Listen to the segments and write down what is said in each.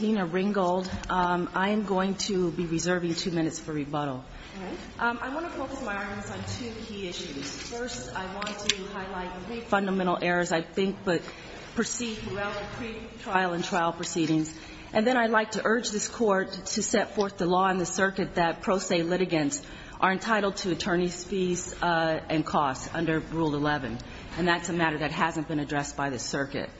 Nina Ringgold I am going to be reserving two minutes for rebuttal. I want to focus my arguments on two key issues. First, I want to highlight three fundamental errors I think but perceived throughout the pretrial and trial proceedings. And then I'd like to urge this Court to set forth the law in the circuit that pro se litigants are entitled to attorney's fees and costs under Rule 11. And that's a matter that hasn't been addressed by the circuit.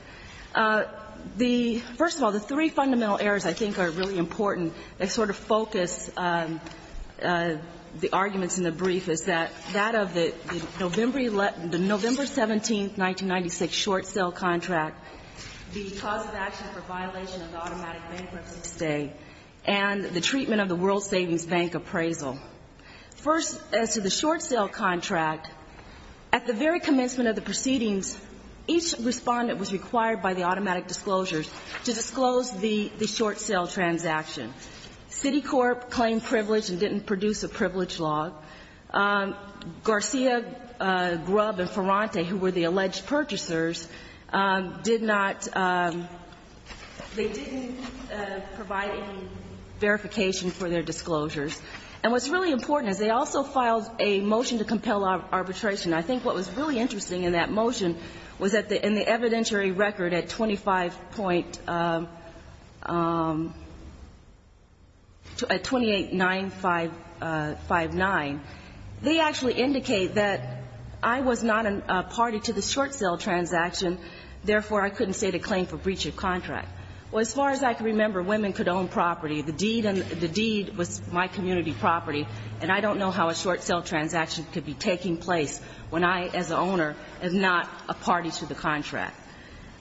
The – first of all, the three fundamental errors I think are really important. They sort of focus the arguments in the brief is that that of the November 17, 1996 short sale contract, the cause of action for violation of the automatic bankruptcy state, and the World Savings Bank appraisal. First, as to the short sale contract, at the very commencement of the proceedings, each respondent was required by the automatic disclosures to disclose the short sale transaction. Citicorp claimed privilege and didn't produce a privilege log. Garcia, Grubb, and Ferrante, who were the alleged purchasers, did not – they didn't provide any verification for their disclosures. And what's really important is they also filed a motion to compel arbitration. I think what was really interesting in that motion was that in the evidentiary record at 25 point – at 28959, they actually indicate that I was a party to the short sale transaction. Therefore, I couldn't state a claim for breach of contract. Well, as far as I can remember, women could own property. The deed was my community property, and I don't know how a short sale transaction could be taking place when I, as an owner, am not a party to the contract.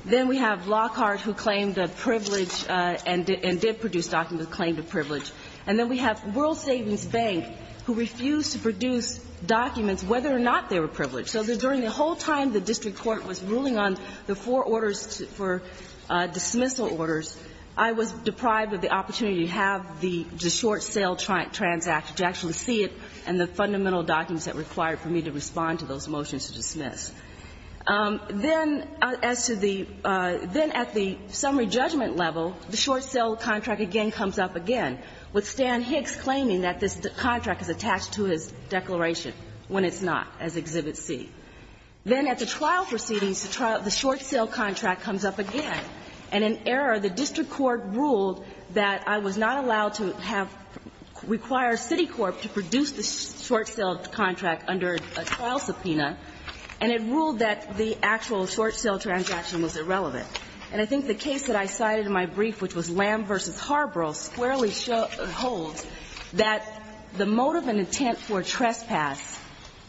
Then we have Lockhart, who claimed a privilege and did produce documents, claimed a privilege. And then we have World Savings Bank, who refused to produce documents whether or not they were privileged. So during the whole time the district court was ruling on the four orders for dismissal orders, I was deprived of the opportunity to have the short sale transaction, to actually see it and the fundamental documents that were required for me to respond to those motions to dismiss. Then, as to the – then at the summary judgment level, the short sale contract again comes up again, with Stan Hicks claiming that this contract is attached to his declaration when it's not, as Exhibit C. Then at the trial proceedings, the trial – the short sale contract comes up again. And in error, the district court ruled that I was not allowed to have – require Citicorp to produce the short sale contract under a trial subpoena, and it ruled that the actual short sale transaction was irrelevant. And I think the case that I cited in my brief, which was Lamb v. Harborough, squarely shows – holds that the motive and intent for trespass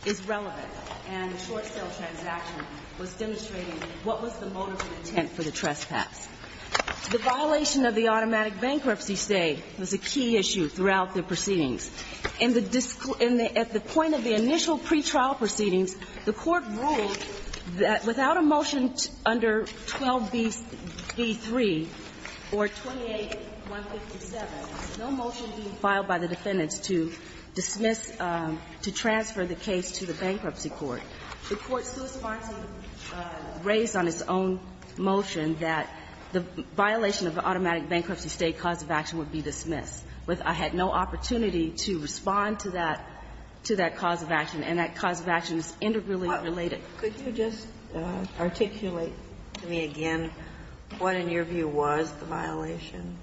is relevant, and the short sale transaction was demonstrating what was the motive and intent for the trespass. The violation of the automatic bankruptcy stay was a key issue throughout the proceedings. In the – at the point of the initial pretrial proceedings, the court ruled that without a motion under 12B3 or 28157, no motion being filed by the defendants to dismiss – to transfer the case to the bankruptcy court. The court's correspondence raised on its own motion that the violation of automatic bankruptcy stay cause of action would be dismissed. I had no opportunity to respond to that – to that cause of action, and that cause of action is integrally related. Could you just articulate to me again what, in your view, was the violation?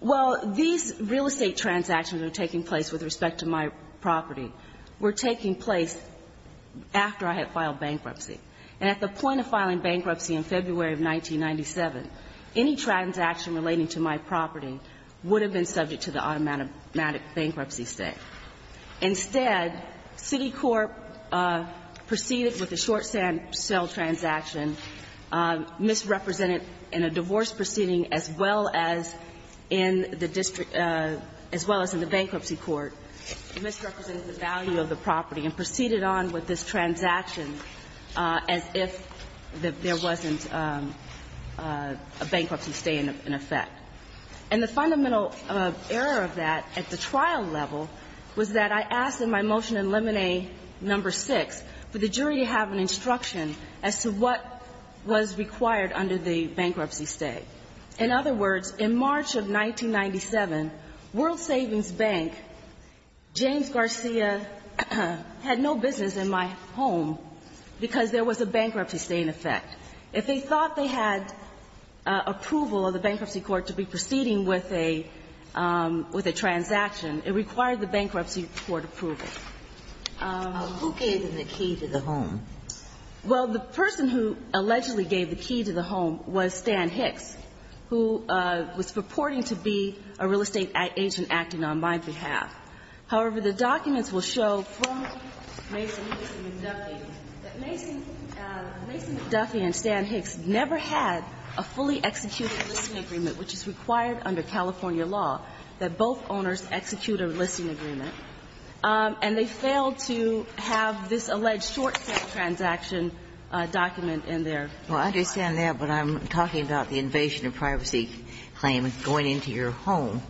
Well, these real estate transactions that are taking place with respect to my property were taking place after I had filed bankruptcy. And at the point of filing bankruptcy in February of 1997, any transaction relating to my property would have been subject to the automatic bankruptcy stay. Instead, city court proceeded with a short sale transaction, misrepresented in a divorce proceeding as well as in the district – as well as in the bankruptcy court, misrepresented the value of the property and proceeded on with this transaction as if there wasn't a bankruptcy stay in effect. And the fundamental error of that at the trial level was that I asked in my motion in Lemonade No. 6 for the jury to have an instruction as to what was required under the bankruptcy stay. In other words, in March of 1997, World Savings Bank, James Garcia, had no business in my home because there was a bankruptcy stay in effect. If they thought they had approval of the bankruptcy court to be proceeding with a transaction, it required the bankruptcy court approval. Who gave them the key to the home? Well, the person who allegedly gave the key to the home was Stan Hicks, who was purporting to be a real estate agent acting on my behalf. However, the documents will show from Mason McDuffie that Mason McDuffie and Stan Hicks never had a fully executed listing agreement, which is required under California law that both owners execute a listing agreement. And they failed to have this alleged short sale transaction document in their file. Well, I understand that, but I'm talking about the invasion of privacy claim going into your home.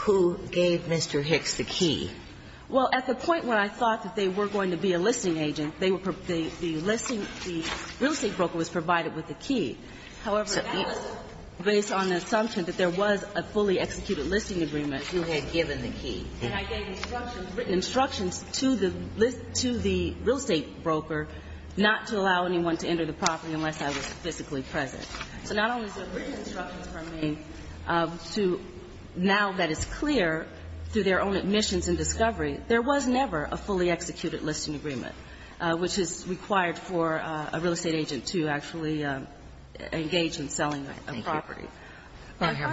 Who gave Mr. Hicks the key? Well, at the point when I thought that they were going to be a listing agent, the listing, the real estate broker was provided with the key. However, that was based on the assumption that there was a fully executed listing agreement who had given the key. And I gave instructions, written instructions to the real estate broker not to allow anyone to enter the property unless I was physically present. So not only is there written instructions from me, to now that it's clear through their own admissions and discovery, there was never a fully executed listing agreement, which is required for a real estate agent to actually engage in selling a property. Thank you.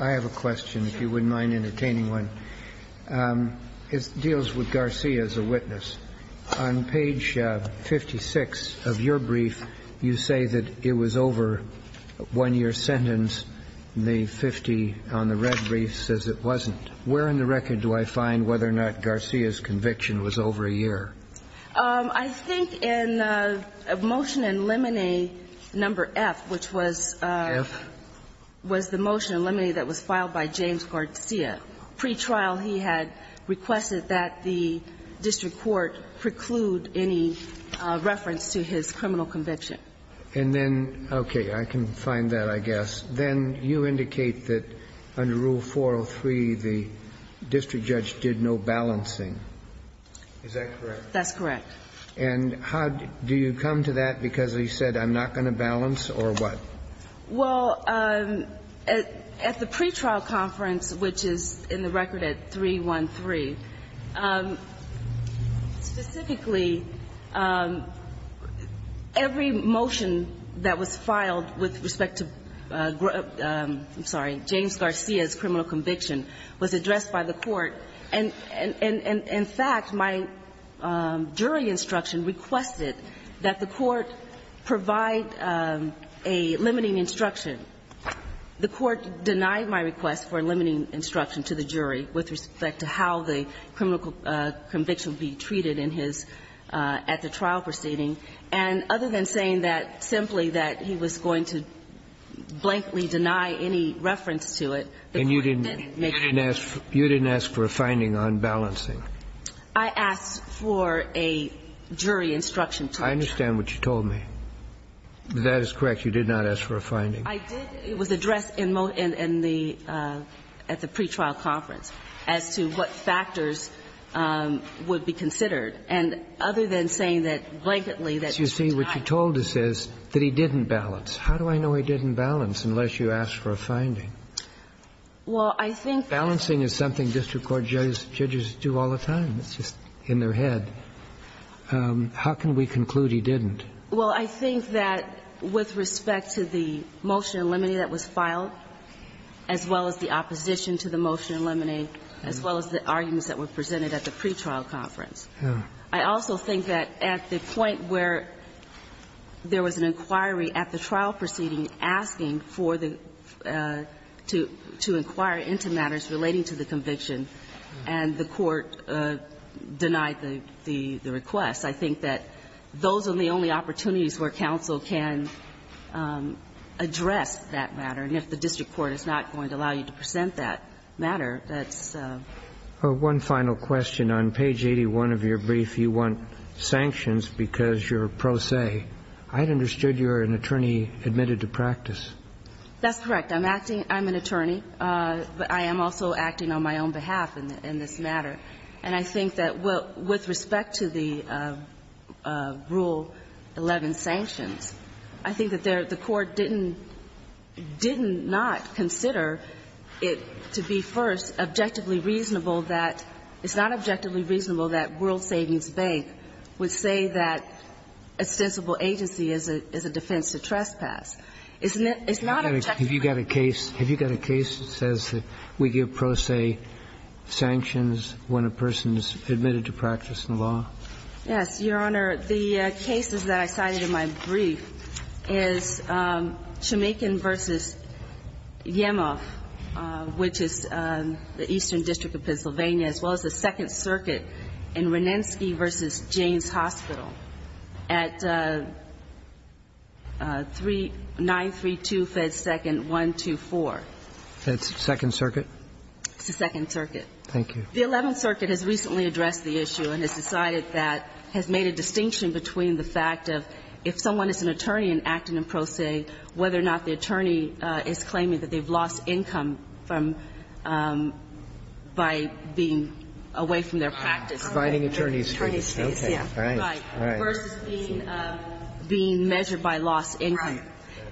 I have a question, if you wouldn't mind entertaining one. It deals with Garcia as a witness. On page 56 of your brief, you say that it was over one-year sentence. The 50 on the red brief says it wasn't. Where in the record do I find whether or not Garcia's conviction was over a year? I think in a motion in limine number F, which was the motion in limine that was filed by James Garcia. Pre-trial, he had requested that the district court preclude any reference to his criminal conviction. And then, okay, I can find that, I guess. Then you indicate that under Rule 403, the district judge did no balancing. Is that correct? That's correct. And how do you come to that? Because he said, I'm not going to balance, or what? Well, at the pretrial conference, which is in the record at 313, specifically, every motion that was filed with respect to, I'm sorry, James Garcia's criminal conviction was addressed by the court. And in fact, my jury instruction requested that the court provide a limiting instruction. The court denied my request for a limiting instruction to the jury with respect to how the criminal conviction would be treated in his at the trial proceeding. And other than saying that simply that he was going to blankly deny any reference to it, the court did make it. And you didn't ask for a finding on balancing? I asked for a jury instruction to the jury. I understand what you told me. That is correct, you did not ask for a finding. I did. It was addressed in the, at the pretrial conference as to what factors would be considered. And other than saying that blankly that he did not. You see, what you told us is that he didn't balance. How do I know he didn't balance unless you ask for a finding? Well, I think that. Balancing is something district court judges do all the time. It's just in their head. How can we conclude he didn't? Well, I think that with respect to the motion in limine that was filed, as well as the opposition to the motion in limine, as well as the arguments that were presented at the pretrial conference. I also think that at the point where there was an inquiry at the trial proceeding asking for the, to inquire into matters relating to the conviction and the court denied the request, I think that those are the only opportunities where counsel can address that matter. And if the district court is not going to allow you to present that matter, that's. One final question. On page 81 of your brief, you want sanctions because you're pro se. I understood you're an attorney admitted to practice. That's correct. I'm acting, I'm an attorney, but I am also acting on my own behalf in this matter. And I think that with respect to the Rule 11 sanctions, I think that the court didn't, didn't not consider it to be first objectively reasonable that, it's not objectively reasonable that World Savings Bank would say that ostensible agency is a defense to trespass. It's not objectively reasonable. Have you got a case, have you got a case that says that we give pro se sanctions when a person is admitted to practice in law? Yes, Your Honor. The cases that I cited in my brief is Shemekin v. Yemoff, which is the Eastern District of Pennsylvania, as well as the Second Circuit in Renenski v. James Hospital at 932 Fed Second 124. That's Second Circuit? It's the Second Circuit. Thank you. The Eleventh Circuit has recently addressed the issue and has decided that, has made a distinction between the fact of if someone is an attorney and acting in pro se, whether or not the attorney is claiming that they've lost income from, by being away from their practice. That's finding attorney's fees. Attorney's fees, yeah. Right. Versus being measured by loss income. Right.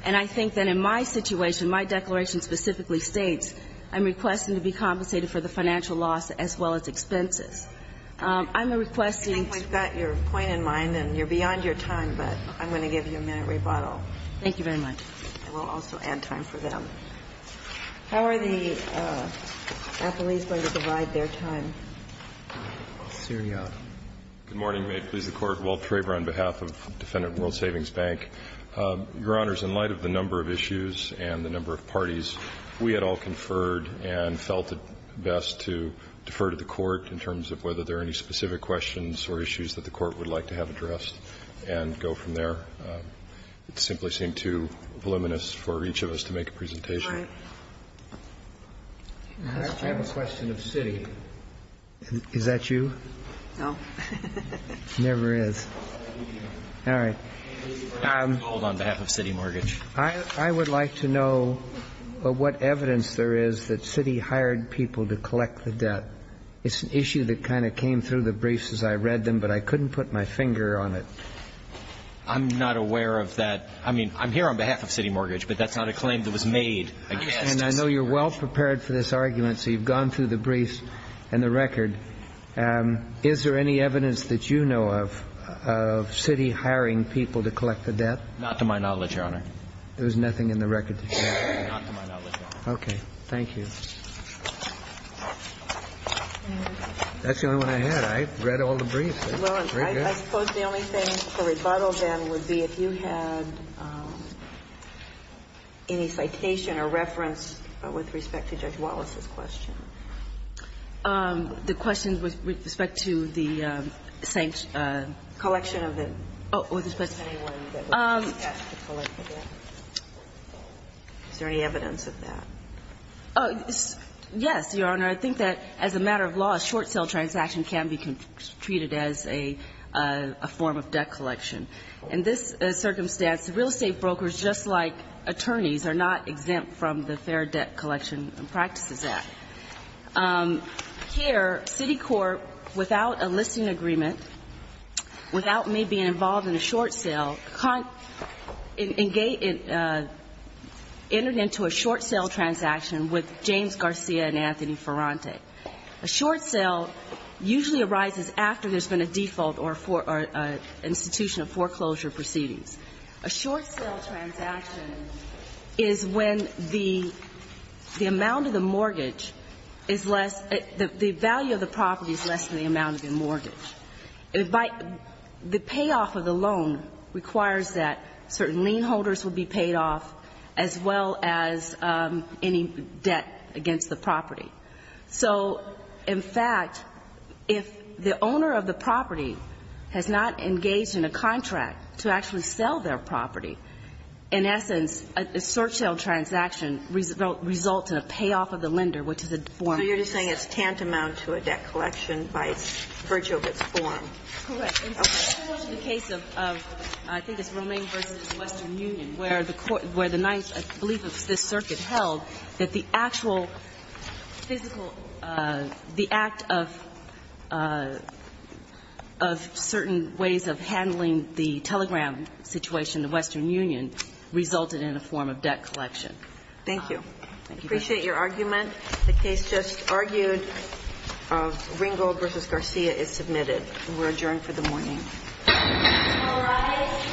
And I think that in my situation, my declaration specifically states, I'm requesting to be compensated for the financial loss as well as expenses. I'm requesting. I think we've got your point in mind, and you're beyond your time, but I'm going to give you a minute rebuttal. Thank you very much. And we'll also add time for them. How are the athletes going to divide their time? I'll steer you out. Good morning. May it please the Court. Walt Traber on behalf of Defendant World Savings Bank. Your Honors, in light of the number of issues and the number of parties, we had all conferred and felt it best to defer to the Court in terms of whether there are any specific questions or issues that the Court would like to have addressed and go from there. It simply seemed too voluminous for each of us to make a presentation. Right. I have a question of Citi. Is that you? No. It never is. All right. Hold on behalf of Citi Mortgage. I would like to know what evidence there is that Citi hired people to collect the debt. It's an issue that kind of came through the briefs as I read them, but I couldn't put my finger on it. I'm not aware of that. I mean, I'm here on behalf of Citi Mortgage, but that's not a claim that was made. And I know you're well prepared for this argument, so you've gone through the briefs and the record. Is there any evidence that you know of, of Citi hiring people to collect the debt? Not to my knowledge, Your Honor. There's nothing in the record? Not to my knowledge, Your Honor. Okay. Thank you. That's the only one I had. I read all the briefs. Well, I suppose the only thing for rebuttal then would be if you had any citation or reference with respect to Judge Wallace's question. The question with respect to the collection of the debt. Oh, with respect to the debt. Is there any evidence of that? Yes, Your Honor. Your Honor, I think that as a matter of law, a short sale transaction can be treated as a form of debt collection. In this circumstance, real estate brokers, just like attorneys, are not exempt from the Fair Debt Collection Practices Act. Here, Citi Corp., without a listing agreement, without me being involved in a short sale, entered into a short sale transaction with James Garcia and Anthony Ferrante. A short sale usually arises after there's been a default or an institution of foreclosure proceedings. A short sale transaction is when the amount of the mortgage is less, the value of the property is less than the amount of the mortgage. The payoff of the loan requires that certain lien holders will be paid off as well as any debt against the property. So, in fact, if the owner of the property has not engaged in a contract to actually sell their property, in essence, a short sale transaction results in a payoff of the lender, which is a form of debt collection. So you're just saying it's tantamount to a debt collection by virtue of its form. Correct. The case of, I think it's Romaine v. Western Union, where the ninth, I believe, of this circuit held that the actual physical, the act of certain ways of handling the telegram situation, the Western Union, resulted in a form of debt collection. Thank you. I appreciate your argument. The case just argued of Ringgold v. Garcia is submitted. We're adjourned for the morning. All rise. Thank you.